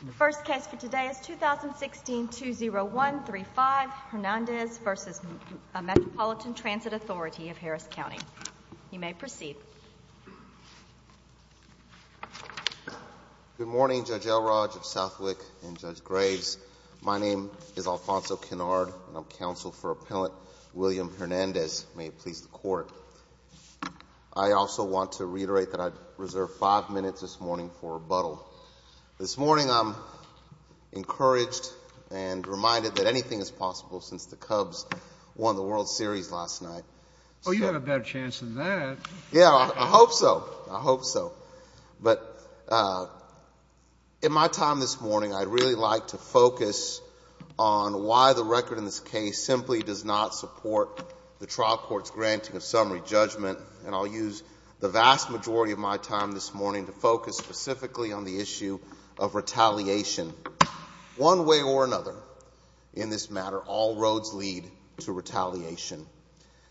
Good morning, Judge Elrodge, Judge Southwick, and Judge Graves. My name is Alfonso Kennard, and I'm counsel for Appellant William Hernandez. May it please the Court, I also want to reiterate that I reserved five minutes this morning for rebuttal. This morning I'm encouraged and reminded that anything is possible since the Cubs won the World Series last night. Oh, you have a better chance than that. Yeah, I hope so. I hope so. But in my time this morning, I'd really like to focus on why the record in this case simply does not support the trial court's granting of summary judgment, and I'll use the vast majority of my time this morning to focus specifically on the issue of retaliation. One way or another, in this matter, all roads lead to retaliation.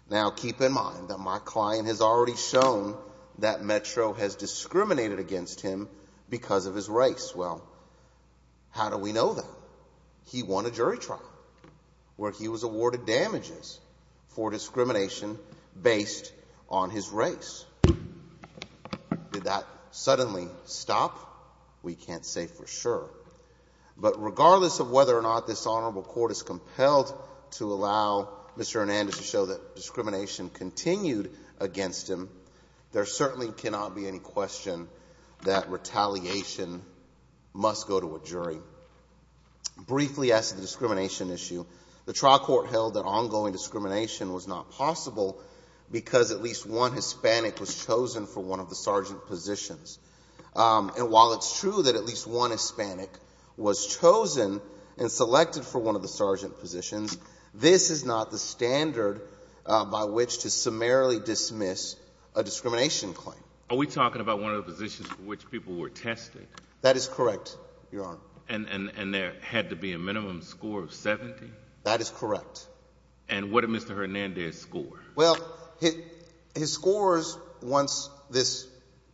Now, keep in mind that my client has already shown that Metro has discriminated against him because of his race. Well, how do we know that? He won a jury trial where he was awarded damages for discrimination based on his race. Did that suddenly stop? We can't say for sure. But regardless of whether or not this Honorable Court is compelled to allow Mr. Hernandez to show that discrimination continued against him, there certainly cannot be any question that retaliation must go to a jury. Briefly, as to the discrimination issue, the trial court held that ongoing discrimination was not possible because at least one Hispanic was chosen for one of the sergeant positions. And while it's true that at least one Hispanic was chosen and selected for one of the sergeant positions, this is not the standard by which to summarily dismiss a discrimination claim. Are we talking about one of the positions for which people were tested? That is correct, Your Honor. And there had to be a minimum score of 70? That is correct. And what did Mr. Hernandez score? Well, his scores, once this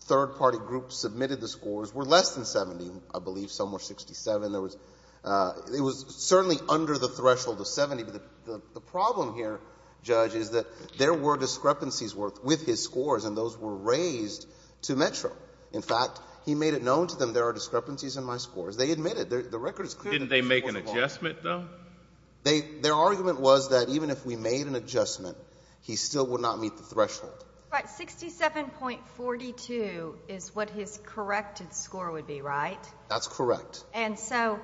third-party group submitted the scores, were less than 70, I The problem here, Judge, is that there were discrepancies with his scores, and those were raised to Metro. In fact, he made it known to them, there are discrepancies in my scores. They admitted. The record is clear that his scores were lower. Didn't they make an adjustment, though? Their argument was that even if we made an adjustment, he still would not meet the threshold. Right. 67.42 is what his corrected score would be, right? That's correct. And so,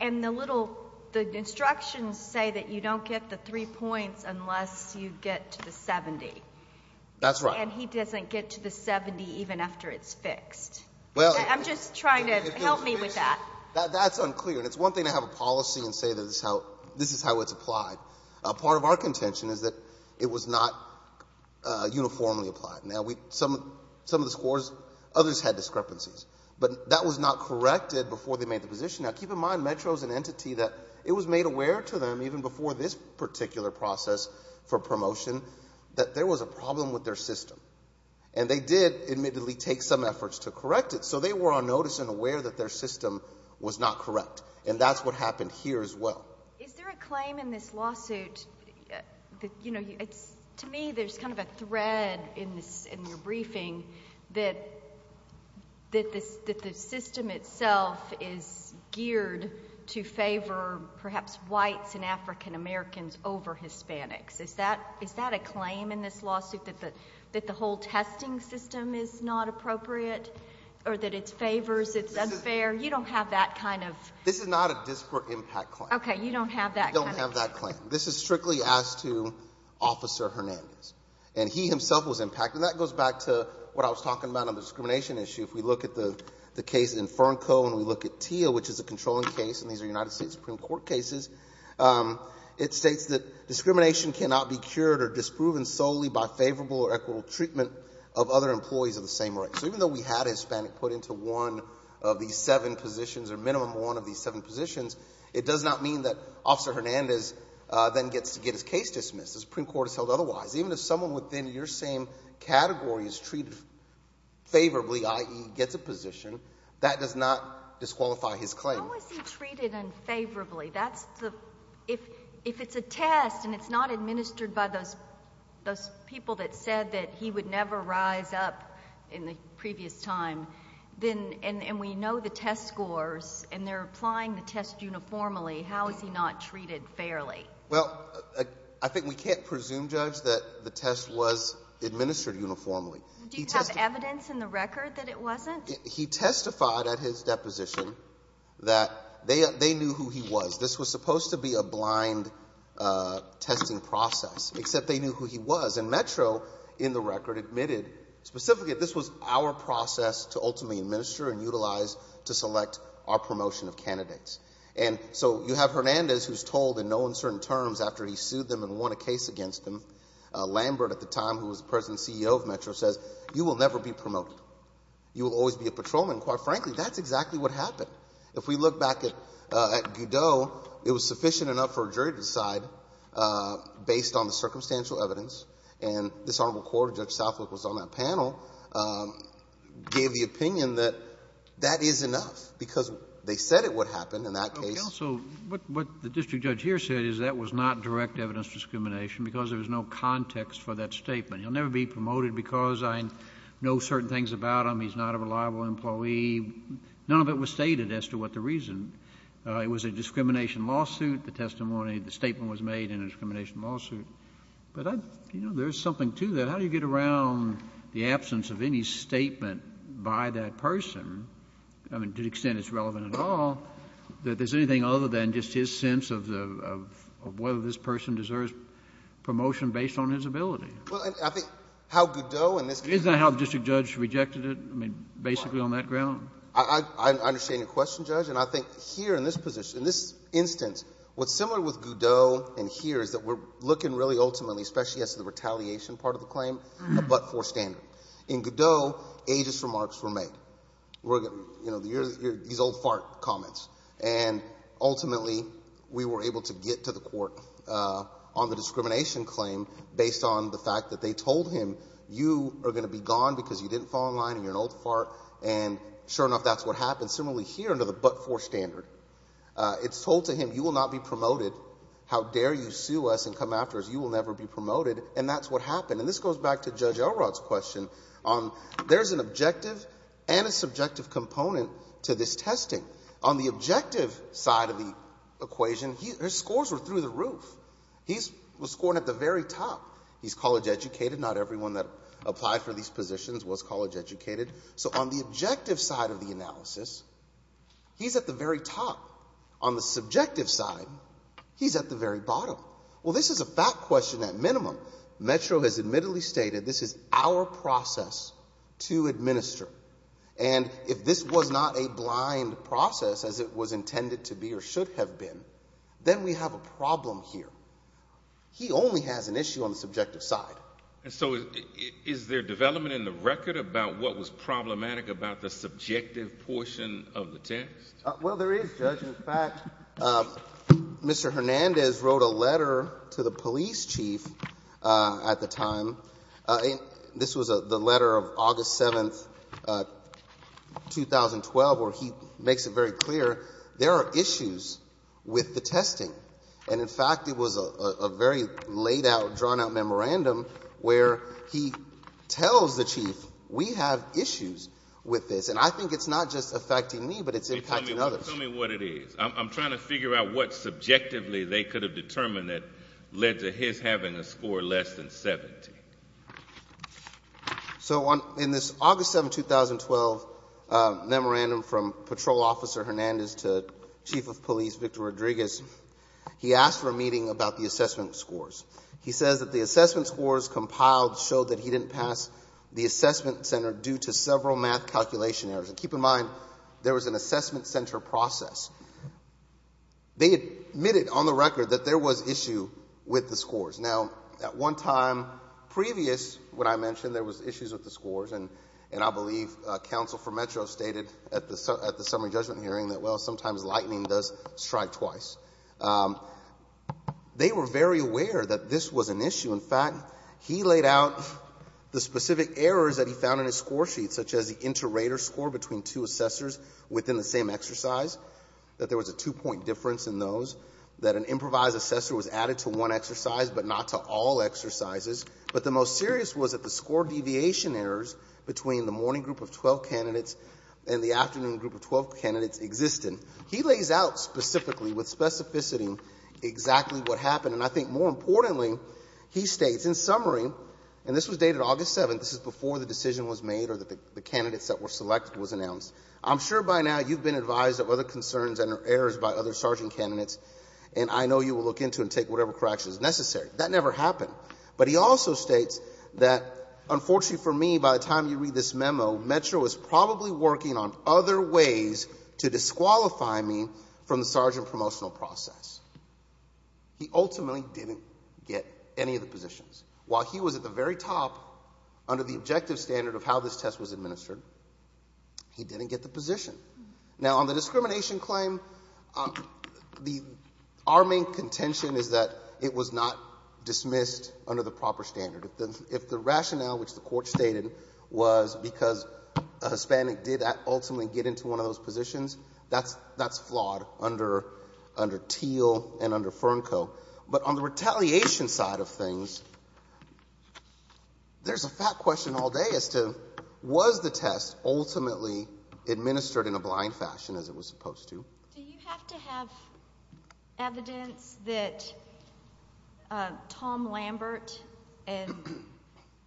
and the little, the instructions say that you don't get the three points unless you get to the 70. That's right. And he doesn't get to the 70 even after it's fixed. Well, I'm just trying to, help me with that. That's unclear. And it's one thing to have a policy and say that this is how it's applied. Part of our contention is that it was not uniformly applied. Now, some of the scores, others had discrepancies, but that was not corrected before they made the position. Now, keep in mind, Metro's an entity that it was made aware to them, even before this particular process for promotion, that there was a problem with their system. And they did, admittedly, take some efforts to correct it. So they were on notice and aware that their system was not correct. And that's what happened here as well. Is there a claim in this lawsuit that, you know, it's, to me, there's kind of a thread in this, in your briefing, that, that this, that the system itself is geared to favor, perhaps whites and African-Americans over Hispanics. Is that, is that a claim in this lawsuit that the, that the whole testing system is not appropriate or that it's favors, it's unfair? You don't have that kind of. This is not a disparate impact claim. Okay. You don't have that. You don't have that claim. This is strictly asked to Officer Hernandez. And he himself was impacted. And that goes back to what I was talking about on the discrimination issue. If we look at the, the case in Fernco and we look at TIA, which is a controlling case, and these are United States Supreme Court cases, it states that discrimination cannot be cured or disproven solely by favorable or equitable treatment of other employees of the same race. So even though we had a Hispanic put into one of these seven positions or minimum one of these seven positions, it does not mean that Officer Hernandez then gets to get his case dismissed. The Supreme Court has held otherwise. Even if someone within your same category is treated favorably, i.e. gets a position, that does not disqualify his claim. How is he treated unfavorably? That's the, if, if it's a test and it's not administered by those, those people that said that he would never rise up in the previous time, then, and we know the test scores and they're applying the test uniformly, how is he not treated fairly? Well, I think we can't presume, Judge, that the test was administered uniformly. Do you have evidence in the record that it wasn't? He testified at his deposition that they, they knew who he was. This was supposed to be a blind testing process, except they knew who he was. And Metro, in the record, admitted specifically that this was our process to ultimately administer and utilize to select candidates. And so you have Hernandez who's told in no uncertain terms after he sued them and won a case against him, Lambert at the time, who was the President and CEO of Metro, says, you will never be promoted. You will always be a patrolman. And quite frankly, that's exactly what happened. If we look back at, at Goudeau, it was sufficient enough for a jury to decide based on the circumstantial evidence. And this Honorable Court, Judge because they said it would happen in that case. So what, what the district judge here said is that was not direct evidence discrimination because there was no context for that statement. He'll never be promoted because I know certain things about him. He's not a reliable employee. None of it was stated as to what the reason. It was a discrimination lawsuit. The testimony, the statement was made in a discrimination lawsuit. But I, you know, there's something to that. How do you get around the absence of any statement by that person, I mean, to the extent it's relevant at all, that there's anything other than just his sense of the, of whether this person deserves promotion based on his ability? Well, and I think how Goudeau in this case Isn't that how the district judge rejected it? I mean, basically on that ground? I, I, I understand your question, Judge. And I think here in this position, in this instance, what's similar with Goudeau and here is that we're looking really ultimately, especially as to the retaliation part of the claim, a but-for standard. In Goudeau, ageist remarks were made. You know, these old fart comments. And ultimately, we were able to get to the court on the discrimination claim based on the fact that they told him, you are going to be gone because you didn't fall in line and you're an old fart. And sure enough, that's what happened. Similarly, here under the but-for standard, it's told to him, you will not be And this goes back to Judge Elrod's question. There's an objective and a subjective component to this testing. On the objective side of the equation, his scores were through the roof. He was scoring at the very top. He's college educated. Not everyone that applied for these positions was college educated. So on the objective side of the analysis, he's at the very top. On the subjective side, he's at the very bottom. Well, this is a fact question at minimum. Metro has admittedly stated, this is our process to administer. And if this was not a blind process as it was intended to be or should have been, then we have a problem here. He only has an issue on the subjective side. And so is there development in the record about what was problematic about the subjective portion of the test? Well, there is, Judge. In fact, Mr. Hernandez wrote a letter to the police chief at the time. This was the letter of August 7, 2012, where he makes it very clear there are issues with the testing. And in fact, it was a very laid out, drawn out memorandum where he tells the chief, we have issues with this. And I think it's not just affecting me, but it's affecting others. Tell me what it is. I'm trying to figure out what subjectively they could have determined that led to his having a score less than 70. So in this August 7, 2012 memorandum from Patrol Officer Hernandez to Chief of Police Victor Rodriguez, he asked for a meeting about the assessment scores. He says that the assessment scores compiled show that he didn't pass the assessment center due to several math calculation errors. And keep in mind, there was an assessment center process. They admitted on the record that there was issue with the scores. Now, at one time previous when I mentioned there was issues with the scores, and I believe counsel for Metro stated at the summary judgment hearing that, well, sometimes lightning does strike twice. They were very aware that this was an issue. In fact, he laid out the specific errors that he found in his score sheet, such as the inter-rater score between two assessors within the same exercise, that there was a two-point difference in those, that an improvised assessor was added to one exercise but not to all exercises. But the most serious was that the score deviation errors between the morning group of 12 candidates and the afternoon group of 12 candidates existed. He lays out specifically with specificity exactly what happened. And I think more importantly, he states, in summary, and this was dated August 7th, this is before the decision was made or the candidates that were selected was announced, I'm sure by now you've been advised of other concerns and errors by other sergeant candidates, and I know you will look into and take whatever corrections necessary. That never happened. But he also states that, unfortunately for me, by the time you read this memo, Metro is probably working on other ways to disqualify me from the sergeant promotional process. He ultimately didn't get any of the positions. While he was at the very top under the objective standard of how this test was administered, he didn't get the position. Now on the discrimination claim, our main contention is that it was not dismissed under the proper standard. If the rationale, which the court stated, was because a Hispanic did not ultimately get into one of those positions, that's flawed under Teal and under Fernco. But on the retaliation side of things, there's a fat question all day as to was the test ultimately administered in a blind fashion as it was supposed to? Do you have to have evidence that Tom Lambert and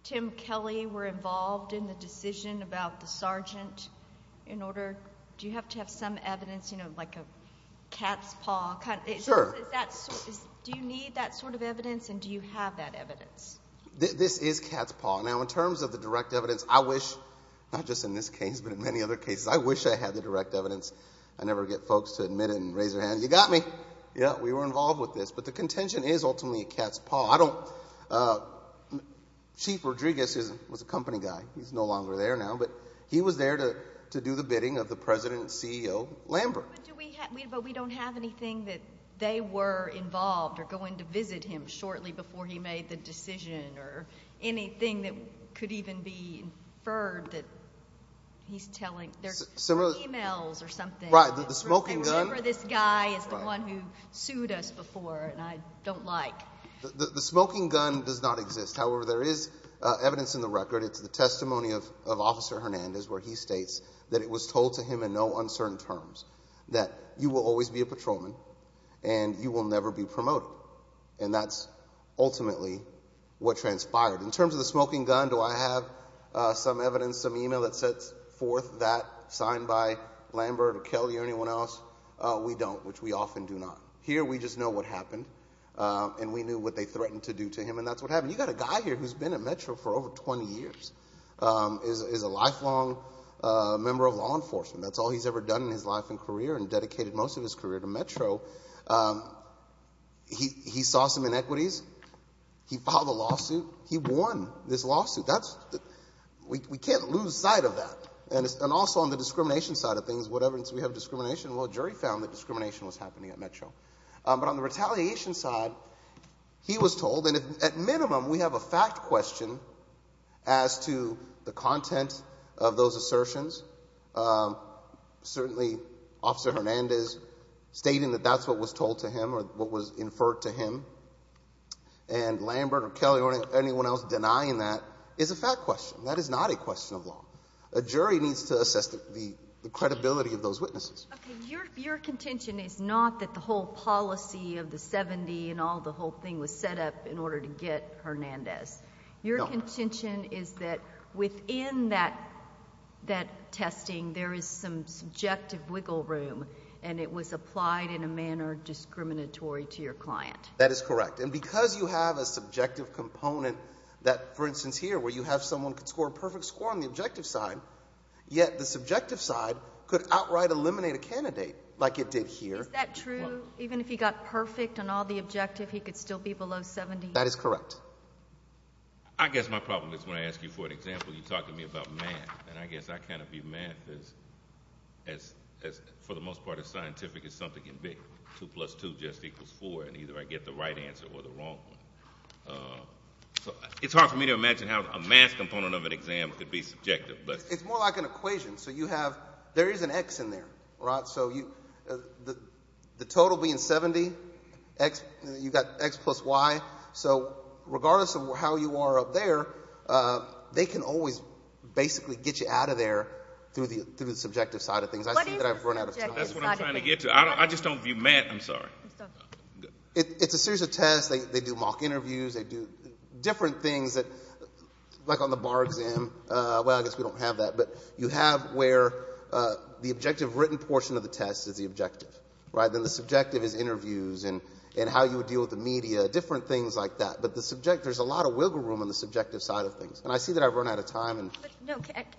Tim Kelly were involved in the decision about the sergeant in order? Do you have to have some evidence, like a cat's paw? Do you need that sort of evidence and do you have that evidence? This is cat's paw. Now in terms of the direct evidence, I wish, not just in this case, but in many other cases, I wish I had the direct evidence. I never get folks to admit it and raise their hand. You got me. Yeah, we were involved with this. But the contention is ultimately a cat's paw. Chief Rodriguez was a company guy. He's no longer there now. But he was there to do the bidding of the president and CEO, Lambert. But we don't have anything that they were involved or going to visit him shortly before he made the decision or anything that could even be inferred that he's telling. There's some emails or something. Right, the smoking gun. I remember this guy is the one who sued us before and I don't like. The smoking gun does not exist. However, there is evidence in the record. It's the testimony of Officer Hernandez where he states that it was told to him in no uncertain terms that you will always be a patrolman and you will never be promoted. And that's ultimately what transpired. In terms of the smoking gun, do I have some evidence, some email that sets forth that signed by Lambert or Kelly or anyone else? We don't, which we often do not. Here we just know what happened and we knew what they threatened to do to him and that's what happened. You've got a guy here who's been at Metro for over 20 years, is a lifelong member of law enforcement. That's all he's ever done in his life and career and dedicated most of his career to Metro. He saw some inequities. He filed a lawsuit. He won this lawsuit. We can't lose sight of that. And also on the discrimination side of things, what evidence we have of discrimination? Well, a jury found that discrimination was happening at Metro. But on the retaliation side, he was told, and at minimum we have a fact question as to the content of those assertions. Certainly Officer Hernandez stating that that's what was told to him or what was inferred to him. And Lambert or Kelly or anyone else denying that is a fact question. That is not a question of law. A jury needs to assess the credibility of those witnesses. Your contention is not that the whole policy of the 70 and all the whole thing was set up in order to get Hernandez. Your contention is that within that testing, there is some subjective wiggle room and it was applied in a manner discriminatory to your client. That is correct. And because you have a subjective component that, for instance here, where you have someone who can score a perfect score on the objective side, yet the subjective side could outright eliminate a candidate like it did here. Is that true? Even if he got perfect on all the objective, he could still be below 70? That is correct. I guess my problem is when I ask you for an example, you talk to me about math. And I guess I kind of view math as, for the most part, as scientific as something can be. Two plus two just equals four. And either I get the right answer or the wrong one. So it's hard for me to imagine how a math component of an exam could be subjective. It's more like an equation. So you have, there is an X in there, right? So the total being 70, you've got X plus Y. So regardless of how you are up there, they can always basically get you out of there through the subjective side of things. What is the subjective side of things? That's what I'm trying to get to. I just don't view math. I'm sorry. It's a series of tests. They do mock interviews. They do different things that, like on the test, you don't have that. But you have where the objective written portion of the test is the objective, right? Then the subjective is interviews and how you would deal with the media, different things like that. But the subject, there's a lot of wiggle room on the subjective side of things. And I see that I've run out of time.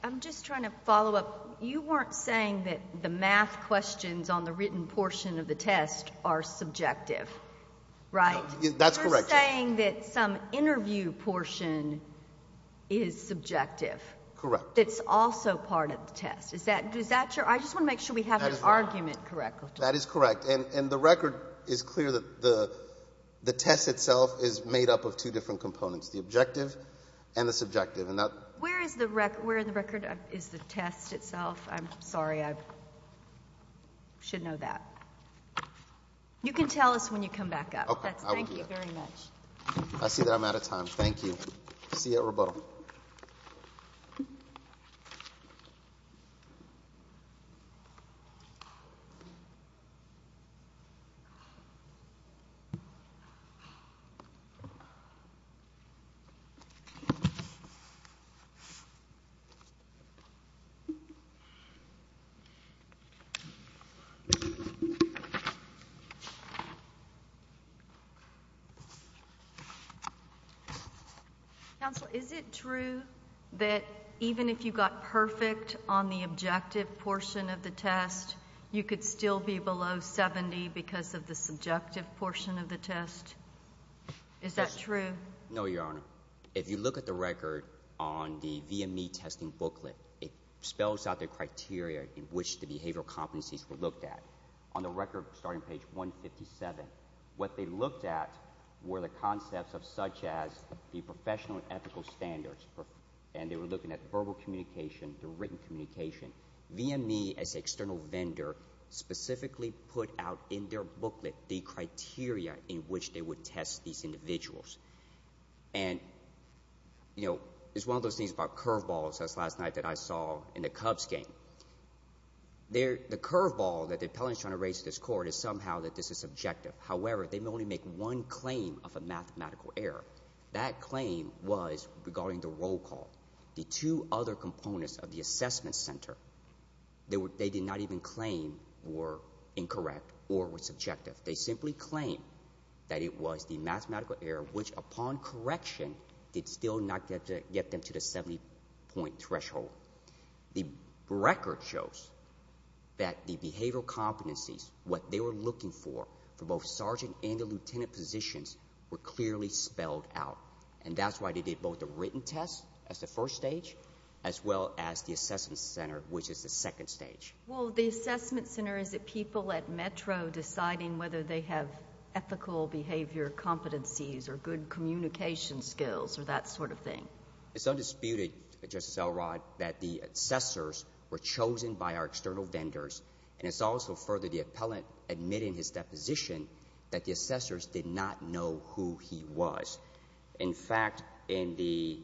I'm just trying to follow up. You weren't saying that the math questions on the written portion of the test are subjective, right? That's correct. You're saying that some interview portion is subjective. Correct. That's also part of the test. Is that true? I just want to make sure we have an argument correct. That is correct. And the record is clear that the test itself is made up of two different components, the objective and the subjective. Where is the record? Is the test itself? I'm sorry. I should know that. You can tell us when you come back up. Okay. I will do that. Thank you very much. I see that I'm out of time. Thank you. See you at rebuttal. Even if you got perfect on the objective portion of the test, you could still be below 70 because of the subjective portion of the test. Is that true? No, Your Honor. If you look at the record on the VME testing booklet, it spells out the criteria in which the behavioral competencies were looked at. On the record starting page 157, what they looked at were the concepts of such as the professional and ethical standards. And they were looking at verbal communication, the written communication. VME as an external vendor specifically put out in their booklet the criteria in which they would test these individuals. And, you know, it's one of those things about curveballs, as last night that I saw in the Cubs game. The curveball that the appellant is trying to raise to this court is somehow that this is subjective. However, they may only make one claim of a mathematical error. That claim was regarding the roll call. The two other components of the assessment center they did not even claim were incorrect or were subjective. They simply claimed that it was the mathematical error, which upon correction did still not get them to the 70-point threshold. The record shows that the behavioral competencies, what they were looking for, for both sergeant and the lieutenant positions were clearly spelled out. And that's why they did both the written test as the first stage, as well as the assessment center, which is the second stage. Well, the assessment center, is it people at Metro deciding whether they have ethical behavior competencies or good communication skills or that sort of thing? It's undisputed, Justice Elrod, that the assessors were chosen by our external vendors. And it's also further the appellant admitting his deposition that the assessors did not know who he was. In fact, in the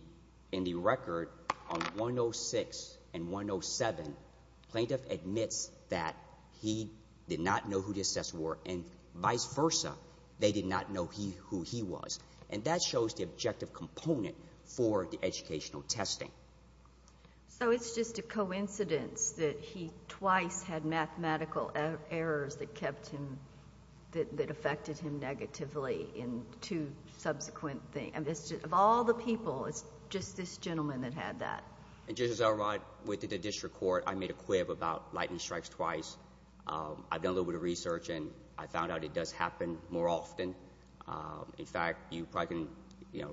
record on 106 and 107, plaintiff admits that he did not know who the assessors were and vice versa, they did not know who he was. And that shows the objective component for the educational testing. So, it's just a coincidence that he twice had mathematical errors that kept him, that affected him negatively in two subsequent things. Of all the people, it's just this gentleman that had that. And, Justice Elrod, within the district court, I made a quip about lightning strikes twice. I've done a little bit of research and I found out it does happen more often. In fact, you know,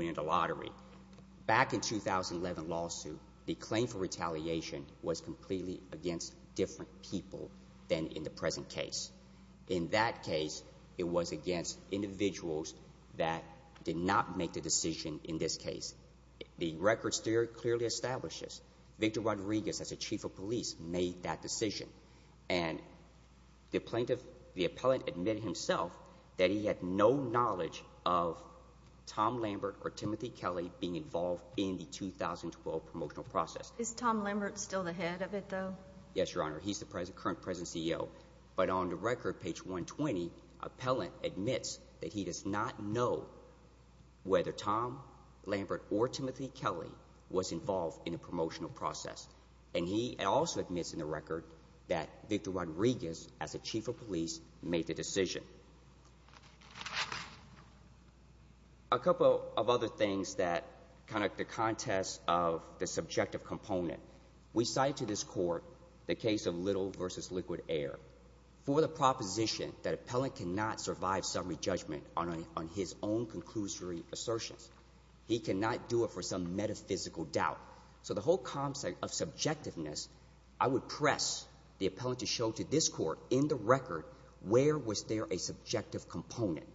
in the 2011 lawsuit, the claim for retaliation was completely against different people than in the present case. In that case, it was against individuals that did not make the decision in this case. The records clearly establish this. Victor Rodriguez, as the chief of police, made that decision. And the plaintiff, the appellant admitted himself that he had no knowledge of Tom Lambert or Timothy Kelly being involved in the 2012 promotional process. Is Tom Lambert still the head of it, though? Yes, Your Honor. He's the current president and CEO. But on the record, page 120, the appellant admits that he does not know whether Tom Lambert or Timothy Kelly was involved in the promotional process. And he also admits in the record that Victor Rodriguez, as the chief of police, did not know. A couple of other things that connect the context of the subjective component. We cite to this court the case of Little v. Liquid Air. For the proposition that an appellant cannot survive summary judgment on his own conclusory assertions, he cannot do it for some metaphysical doubt. So the whole concept of subjectiveness, I would press the appellant to show to this court in the record where was there a subjective component.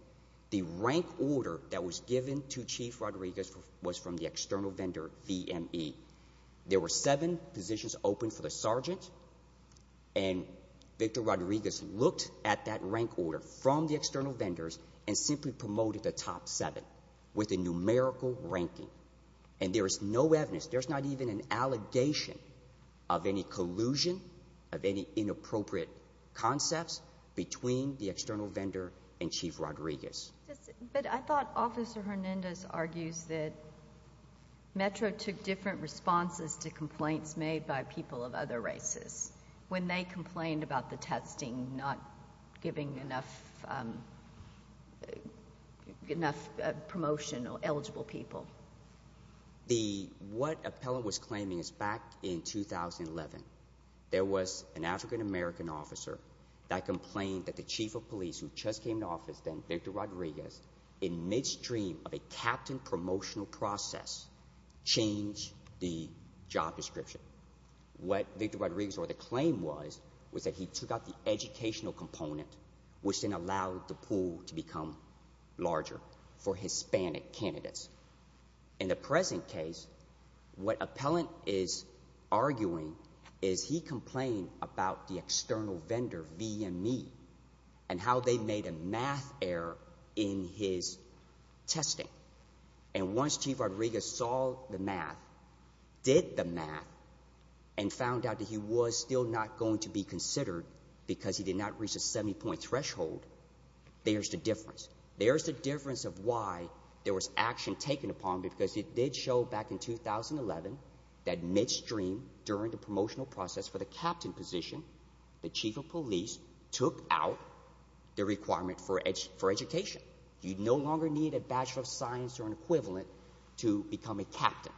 The rank order that was given to Chief Rodriguez was from the external vendor VME. There were seven positions open for the sergeant, and Victor Rodriguez looked at that rank order from the external vendors and simply promoted the top seven with a numerical ranking. And there is no evidence, there is not even an allegation of any collusion, of any inappropriate concepts between the external vendor and Chief Rodriguez. But I thought Officer Hernandez argues that Metro took different responses to complaints made by people of other races when they complained about the testing not giving enough promotion to eligible people. What appellant was claiming is back in 2011, there was an African American officer that complained that the chief of police who just came into office, Victor Rodriguez, in midstream of a captain promotional process, changed the job description. What Victor Rodriguez or the claim was, was that he took out the educational component, which then allowed the pool to become larger for Hispanic candidates. In the present case, what appellant is arguing is he complained about the external vendor VME and how they made a math error in his testing. And once Chief Rodriguez saw the math, did the math, and found out that he was still not going to be considered because he did not reach the 70 point threshold, there's the difference. There's the difference of why there was action taken upon him because it did show back in 2011 that midstream during the promotional process for the captain position, the chief of police took out the requirement for education. You no longer need a Bachelor of Science or an equivalent to become a captain.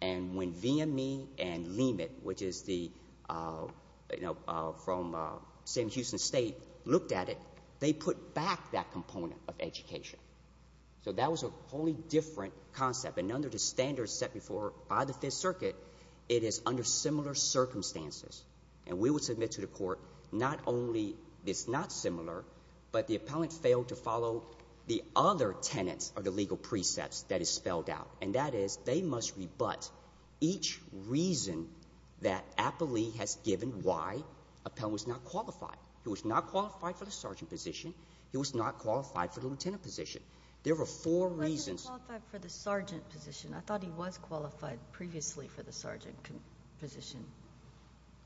And when VME and LEMIT, which is the, you know, from Sam Houston State, looked at it, they put back that component of education. So that was a wholly different concept. And under the standards set before by the Fifth Circuit, it is under similar circumstances. And we would submit to the court not only it's not similar, but the appellant failed to follow the other tenets of the legal precepts that is spelled out. And that is they must rebut each reason that Appellee has given why appellant was not qualified. He was not qualified for the sergeant position. He was not qualified for the lieutenant position. There were four reasons. He wasn't qualified for the sergeant position. I thought he was qualified previously for the sergeant position.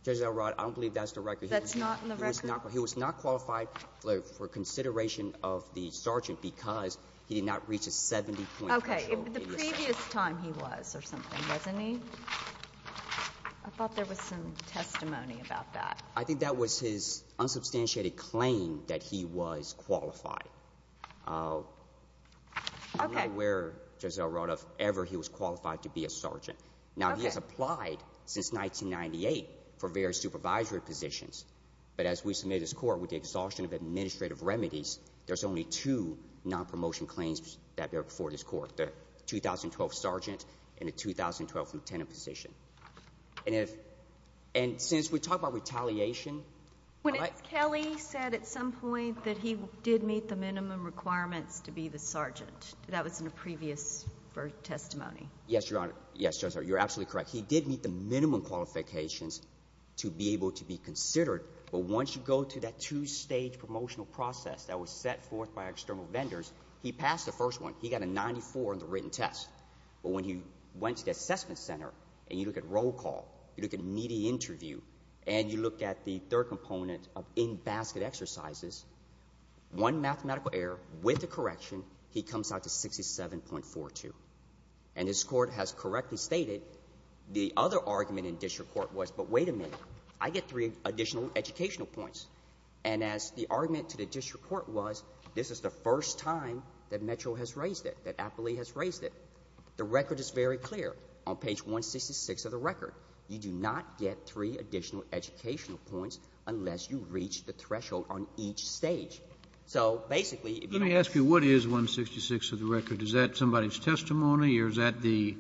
Judge Elrod, I don't believe that's the record. That's not in the record? He was not qualified for consideration of the sergeant because he did not reach a 70-point control. Okay. The previous time he was or something, wasn't he? I thought there was some testimony about that. I think that was his unsubstantiated claim that he was qualified. Okay. I don't know where, Judge Elrod, if ever he was qualified to be a sergeant. Okay. He has applied since 1998 for various supervisory positions. But as we submit his court with the exhaustion of administrative remedies, there's only two non-promotion claims that bear before this court, the 2012 sergeant and the 2012 lieutenant position. And since we talk about retaliation... When Ms. Kelly said at some point that he did meet the minimum requirements to be the sergeant, that was in a previous testimony. Yes, Your Honor. Yes, Judge Elrod. You're absolutely correct. He did meet the minimum qualifications to be able to be considered. But once you go to that two-stage promotional process that was set forth by external vendors, he passed the first one. He got a 94 on the written test. But when he went to the assessment center and you look at roll call, you look at media interview, and you look at the third component of in-basket exercises, one mathematical error with a correction, he comes out to 67.42. And this Court has correctly stated the other argument in district court was, but wait a minute, I get three additional educational points. And as the argument to the district court was, this is the first time that Metro has raised it, that Appley has raised it. The record is very clear on page 166 of the record. You do not get three additional educational points unless you reach the threshold on each stage. So basically testimony, or is that the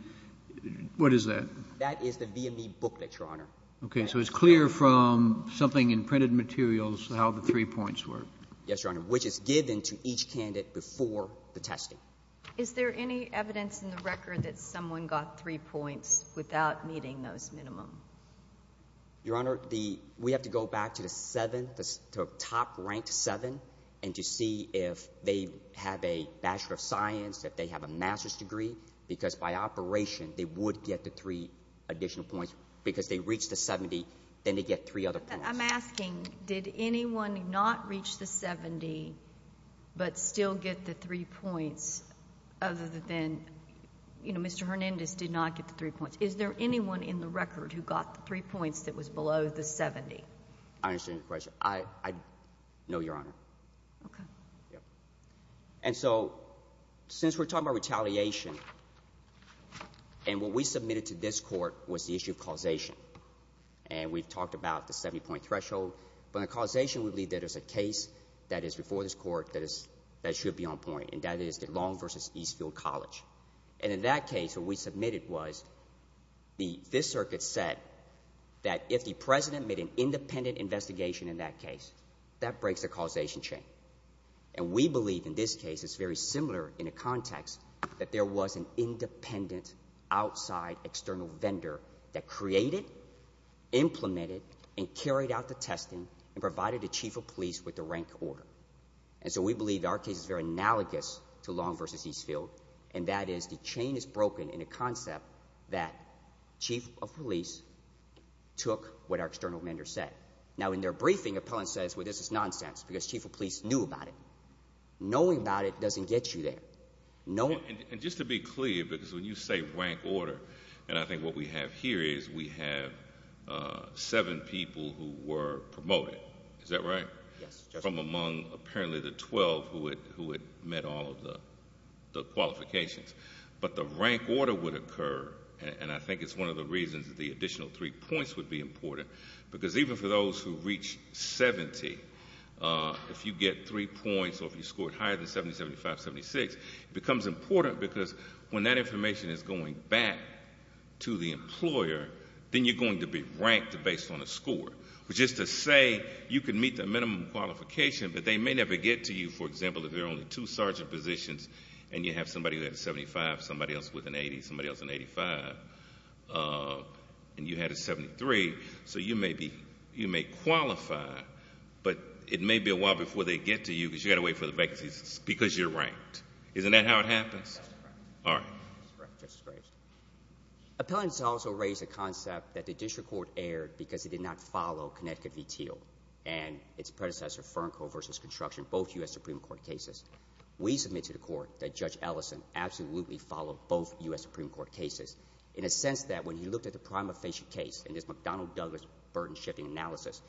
— what is that? That is the VME booklet, Your Honor. Okay. So it's clear from something in printed materials how the three points work. Yes, Your Honor, which is given to each candidate before the testing. Is there any evidence in the record that someone got three points without meeting those minimum? Your Honor, the — we have to go back to the seventh, the top-ranked seven, and to see if they have a bachelor of science, if they have a master's degree, because by operation they would get the three additional points. Because they reach the 70, then they get three other points. I'm asking, did anyone not reach the 70, but still get the three points, other than — you know, Mr. Hernandez did not get the three points. Is there anyone in the record who got the three points that was below the 70? I understand your question. I — no, Your Honor. Okay. Yeah. And so, since we're talking about retaliation, and what we submitted to this court was the issue of causation. And we've talked about the 70-point threshold, but in causation we believe that there's a case that is before this court that is — that should be on point, and that is the Long v. Eastfield College. And in that case, what we submitted was the — this circuit said that if the president made an independent investigation in that case, that breaks the causation chain. And we believe in this case, it's very similar in a context, that there was an independent outside external vendor that created, implemented, and carried out the testing, and provided the chief of police with the rank order. And so we believe our case is very analogous to Long v. Eastfield, and that is the chain is broken in a concept that chief of police took what our external vendor said. Now, in their briefing, appellant says, well, this is nonsense, because chief of police knew about it. Knowing about it doesn't get you there. Knowing — And just to be clear, because when you say rank order, and I think what we have here is we have seven people who were promoted. Is that right? Yes, Justice. From among, apparently, the 12 who had met all of the qualifications. But the rank order would occur, and I think it's one of the reasons that the additional three points would be for those who reach 70. If you get three points, or if you scored higher than 70, 75, 76, it becomes important, because when that information is going back to the employer, then you're going to be ranked based on a score. Which is to say, you can meet the minimum qualification, but they may never get to you, for example, if there are only two sergeant positions, and you have somebody who had a 75, somebody else with an 80, somebody else an 85, and you had a 73, so you may be — you may qualify, but it may be a while before they get to you, because you've got to wait for the vacancies, because you're ranked. Isn't that how it happens? That's correct. All right. That's correct, Justice Graves. Appellants also raise a concept that the district court erred because it did not follow Connecticut v. Thiel, and its predecessor, Fernco v. Construction, both U.S. Supreme Court cases. We submit to the court that Judge Ellison absolutely followed both U.S. Supreme Court cases, in a sense that when he looked at the prima facie case, in this McDonnell-Douglas burden-shifting analysis,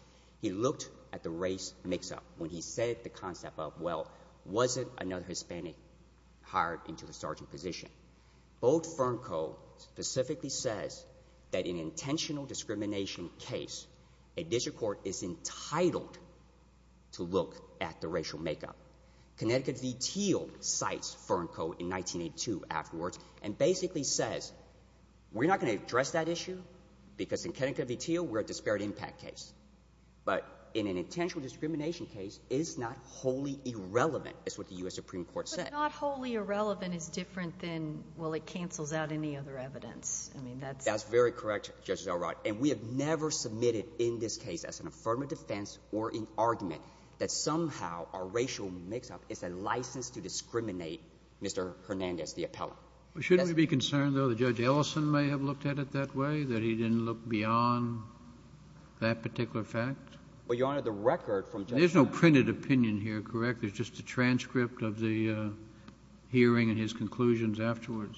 he looked at the race mix-up, when he said the concept of, well, was it another Hispanic hired into the sergeant position? Both Fernco specifically says that in an intentional discrimination case, a district court is entitled to look at the racial make-up. Connecticut v. Thiel cites Fernco in 1982 afterwards, and basically says, we're not going to address that issue, because in Connecticut v. Thiel, we're a disparate impact case. But in an intentional discrimination case, it's not wholly irrelevant, is what the U.S. Supreme Court said. But not wholly irrelevant is different than, well, it cancels out any other evidence. I mean, that's — That's very correct, Justice Elrod. And we have never submitted in this case, as an affirmative defense or in argument, that somehow a racial mix-up is a license to discriminate Mr. Hernandez, the appellant. Shouldn't we be concerned, though, that Judge Ellison may have looked at it that way, that he didn't look beyond that particular fact? Well, Your Honor, the record from — There's no printed opinion here, correct? There's just a transcript of the hearing and his conclusions afterwards?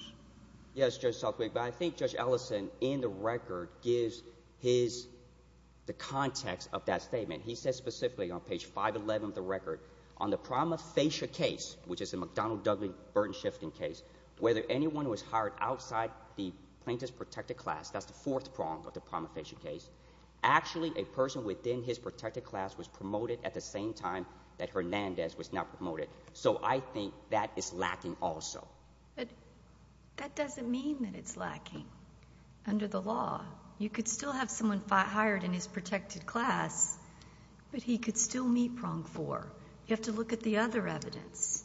Yes, Judge Southwick. But I think Judge Ellison, in the record, gives his — the context of that statement. He says specifically on page 511 of the record, on the prima facie case, which is a McDonnell-Douglas-Burton shifting case, whether anyone who was hired outside the plaintiff's protected class — that's the fourth prong of the prima facie case — actually a person within his protected class was promoted at the same time that Hernandez was now promoted. So I think that is lacking also. But that doesn't mean that it's lacking. Under the law, you could still have someone hired in his protected class, but he could still meet prong four. You have to look at the other evidence.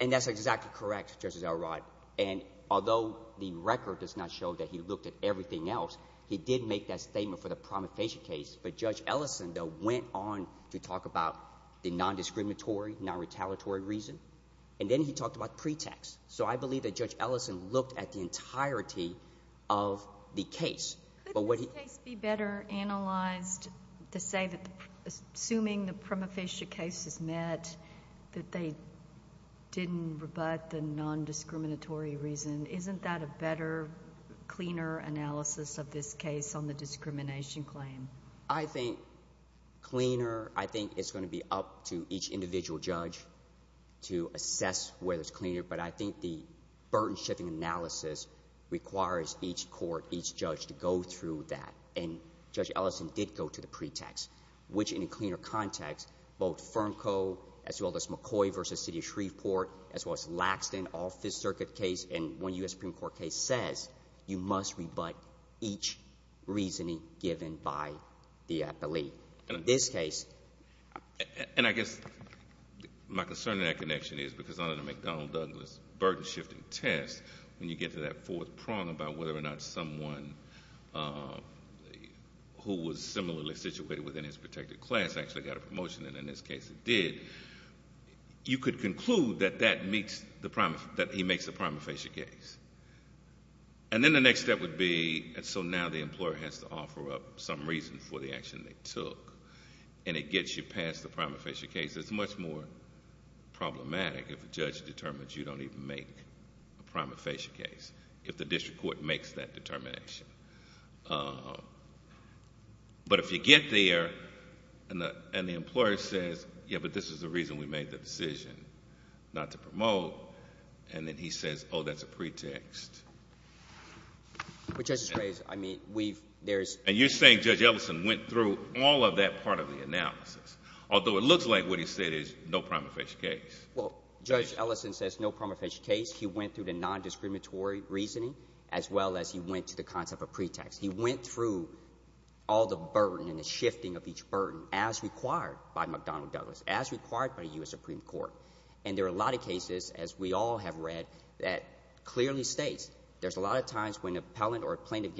And that's exactly correct, Justice Elrod. And although the record does not show that he looked at everything else, he did make that statement for the prima facie case. But Judge Ellison, though, went on to talk about the nondiscriminatory, nonretaliatory reason, and then he talked about pretext. So I believe that Judge Ellison looked at the entirety of the case. Couldn't this case be better analyzed to say that, assuming the prima facie case is met, that they didn't rebut the nondiscriminatory reason? Isn't that a better, cleaner analysis of this case on the discrimination claim? I think cleaner. I think it's going to be up to each individual judge to assess whether it's cleaner. But I think the Burton shifting analysis requires each court, each judge, to go through that. And Judge Ellison did go to the pretext, which, in a cleaner context, both FERMCO, as well as McCoy v. City of Shreveport, as well as Laxton, all Fifth Circuit case, and one U.S. Supreme Court case, says you must rebut each reasoning given by the appellee. And in this case— And I guess my concern in that connection is, because under the McDonnell-Douglas Burton shifting test, when you get to that fourth prong about whether or not someone who was similarly situated within his protected class actually got a promotion, and in this case it did, you could conclude that he makes a prima facie case. And then the next step would be, so now the employer has to offer up some reason for the action they took. And it gets you past the prima facie case. It's much more problematic if a judge determines you don't actually make a prima facie case, if the district court makes that determination. But if you get there, and the employer says, yeah, but this is the reason we made the decision not to promote, and then he says, oh, that's a pretext. But Justice Graves, I mean, we've— And you're saying Judge Ellison went through all of that part of the analysis, although it looks like what he said is no prima facie case. Well, Judge Ellison says no prima facie case. He went through the nondiscriminatory reasoning as well as he went to the concept of pretext. He went through all the burden and the shifting of each burden as required by McDonnell-Douglas, as required by the U.S. Supreme Court. And there are a lot of cases, as we all have read, that clearly states there's a lot of times when an appellant or a plaintiff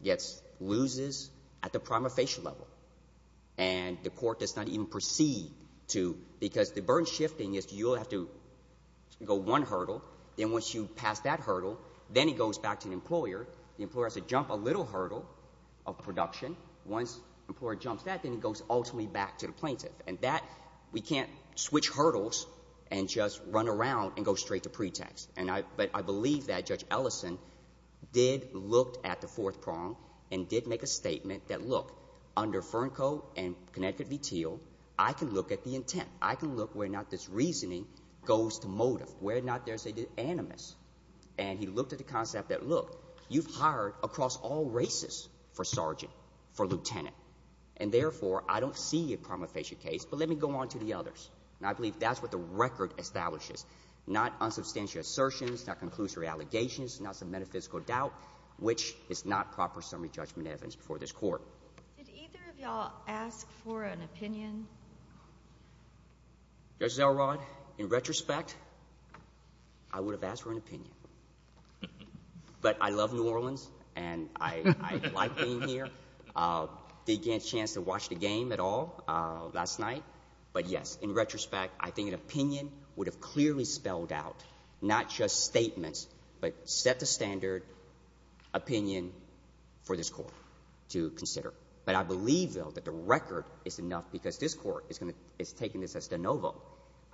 gets—loses at the prima facie level, and the court does not even proceed to—because the burden shifting is you'll have to go one hurdle, then once you pass that hurdle, then it goes back to the employer. The employer has to jump a little hurdle of production. Once the employer jumps that, then it goes ultimately back to the plaintiff. And that—we can't switch hurdles and just run around and go straight to pretext. And I—but I believe that Judge Ellison did look at the fourth prong and did make a statement that, look, under Fernco and Connecticut v. Teal, I can look at the intent. I can look where not this reasoning goes to motive, where not there's an animus. And he looked at the concept that, look, you've hired across all races for sergeant, for lieutenant. And, therefore, I don't see a prima facie case, but let me go on to the others. And I believe that's what the record establishes, not unsubstantial assertions, not conclusory allegations, not some metaphysical doubt, which is not proper summary judgment evidence before this court. Did either of y'all ask for an opinion? Judge Zellrod, in retrospect, I would have asked for an opinion. But I love New Orleans, and I like being here. I didn't get a chance to watch the game at all last night. But, yes, in retrospect, I think an opinion would have clearly spelled out, not just statements, but set the standard opinion for this court to consider. But I believe, though, that the record is enough, because this court is taking this as de novo.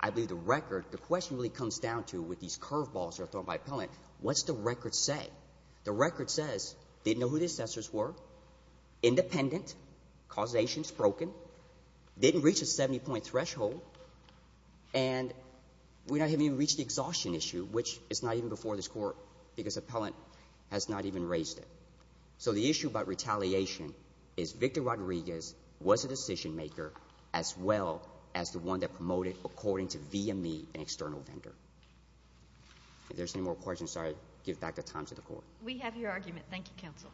I believe the record, the question really comes down to, with these curveballs thrown by appellant, what's the record say? The record says, didn't know who the assessors were, independent, causations broken, didn't reach a 70-point threshold, and we're not even before this court because appellant has not even raised it. So the issue about retaliation is Victor Rodriguez was a decision-maker as well as the one that promoted, according to VME, an external vendor. If there's any more questions, I'll give back the time to the Court. We have your argument. Thank you, Counsel.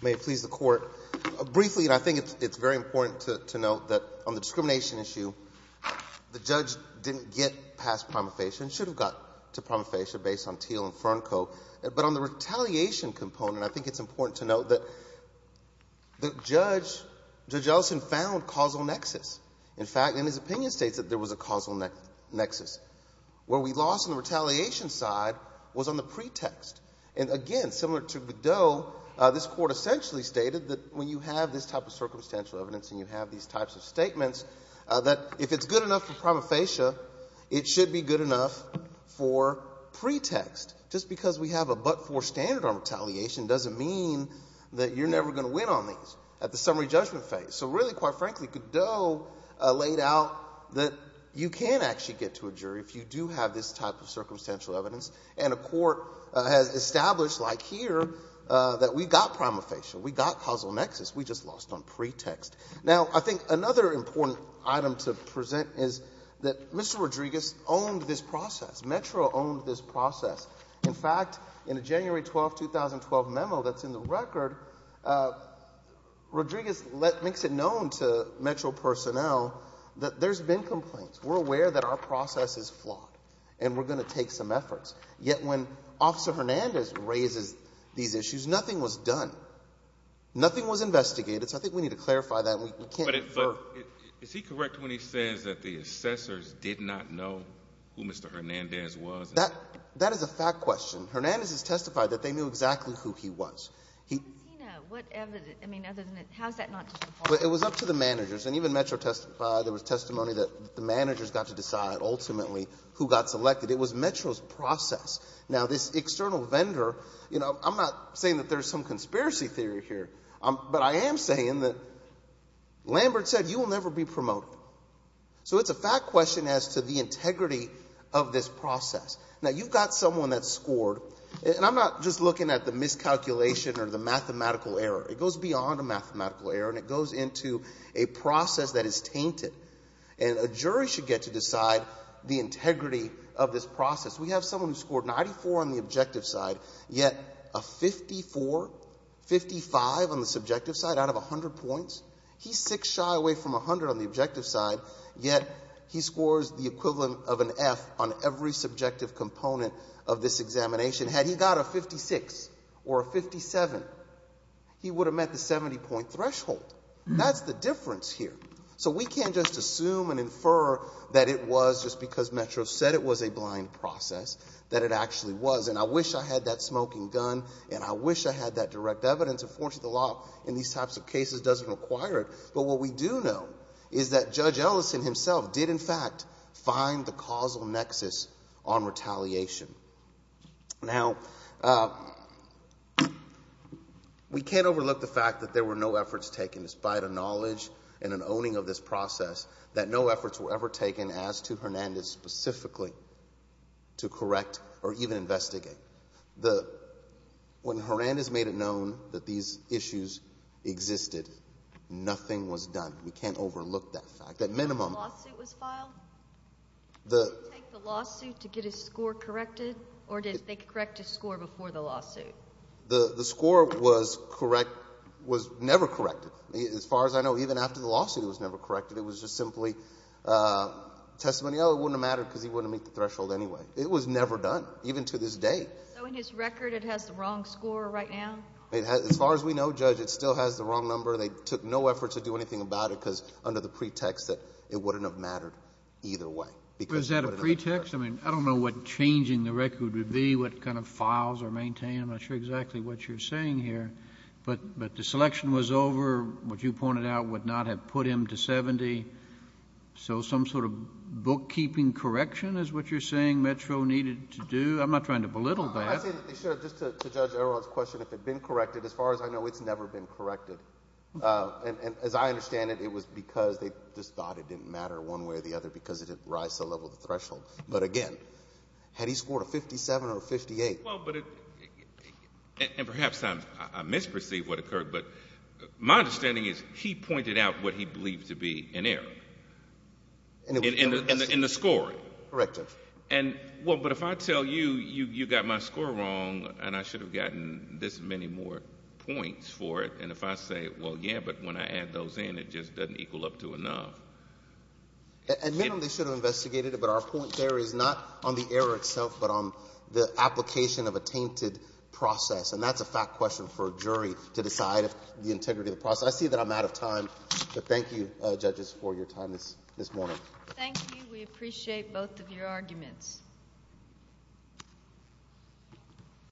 May it please the Court. Briefly, and I think it's very important to note that on the discrimination issue, the judge didn't get past prima facie and should have gotten to But on the retaliation component, I think it's important to note that the judge, Judge Ellison, found causal nexus. In fact, in his opinion states that there was a causal nexus. Where we lost on the retaliation side was on the pretext. And again, similar to Beddow, this Court essentially stated that when you have this type of circumstantial evidence and you have these types of statements, that if it's good enough for prima facie, good enough for standard arm retaliation, doesn't mean that you're never going to win on these at the summary judgment phase. So really, quite frankly, Beddow laid out that you can actually get to a jury if you do have this type of circumstantial evidence. And a Court has established, like here, that we got prima facie. We got causal nexus. We just lost on pretext. Now, I think another important item to present is that Mr. Rodriguez owned this process. Metro owned this process. In fact, in a January 12, 2012 memo that's in the record, Rodriguez makes it known to Metro personnel that there's been complaints. We're aware that our process is flawed and we're going to take some efforts. Yet when Officer Hernandez raises these issues, nothing was done. Nothing was investigated. So I think we need to clarify that. Is he correct when he says that the assessors did not know who Mr. Hernandez was? That is a fact question. Hernandez has testified that they knew exactly who he was. How does he know? I mean, how is that not just a fault? It was up to the managers. And even Metro testified. There was testimony that the managers got to decide, ultimately, who got selected. It was Metro's process. Now, this external vendor, you know, I'm not saying that there's some Lambert said, you will never be promoted. So it's a fact question as to the integrity of this process. Now, you've got someone that scored, and I'm not just looking at the miscalculation or the mathematical error. It goes beyond a mathematical error and it goes into a process that is tainted. And a jury should get to decide the integrity of this process. We have someone who scored 94 on the objective side, yet a 54, 55 on the subjective side out of 100 points. He's six shy away from 100 on the objective side, yet he scores the equivalent of an F on every subjective component of this examination. Had he got a 56 or a 57, he would have met the 70 point threshold. That's the difference here. So we can't just assume and infer that it was just because Metro said it was a blind process, that it actually was. And I wish I had that smoking gun and I wish I had that direct evidence. Unfortunately, the law in these types of cases doesn't require it. But what we do know is that Judge Ellison himself did, in fact, find the causal nexus on retaliation. Now, we can't overlook the fact that there were no efforts taken, despite a knowledge and an owning of this process, that no efforts were ever taken as to Hernandez specifically to correct or even investigate. When Hernandez made it known that these issues existed, nothing was done. We can't overlook that fact. Did he take the lawsuit to get his score corrected, or did they correct his score before the lawsuit? The score was never corrected. As far as I know, even after the lawsuit, it was never corrected. It was just simply testimony, oh, it wouldn't have mattered because he wouldn't have met the threshold anyway. It was never done, even to this day. So in his record, it has the wrong score right now? As far as we know, Judge, it still has the wrong number. They took no effort to do anything about it because under the pretext that it wouldn't have mattered either way. Is that a pretext? I mean, I don't know what changing the record would be, what kind of files are maintained. I'm not sure exactly what you're saying here. But the selection was over. What you pointed out would not have put him to 70. So some sort of bookkeeping correction is what you're saying Metro needed to do? I'm not trying to belittle that. Just to Judge Aron's question, if it had been corrected, as far as I know, it's never been corrected. And as I understand it, it was because they just thought it didn't matter one way or the other because it didn't rise to the level of the threshold. But, again, had he scored a 57 or a 58? And perhaps I misperceived what occurred, but my understanding is he pointed out what he believed to be in error in the scoring. Correct, Judge. And, well, but if I tell you you got my score wrong and I should have gotten this many more points for it, and if I say, well, yeah, but when I add those in, it just doesn't equal up to enough. Admittedly, they should have investigated it, but our point there is not on the error itself but on the application of a tainted process. And that's a fact question for a jury to decide the integrity of the process. I see that I'm out of time, but thank you, Judges, for your time this morning. Thank you. We appreciate both of your arguments.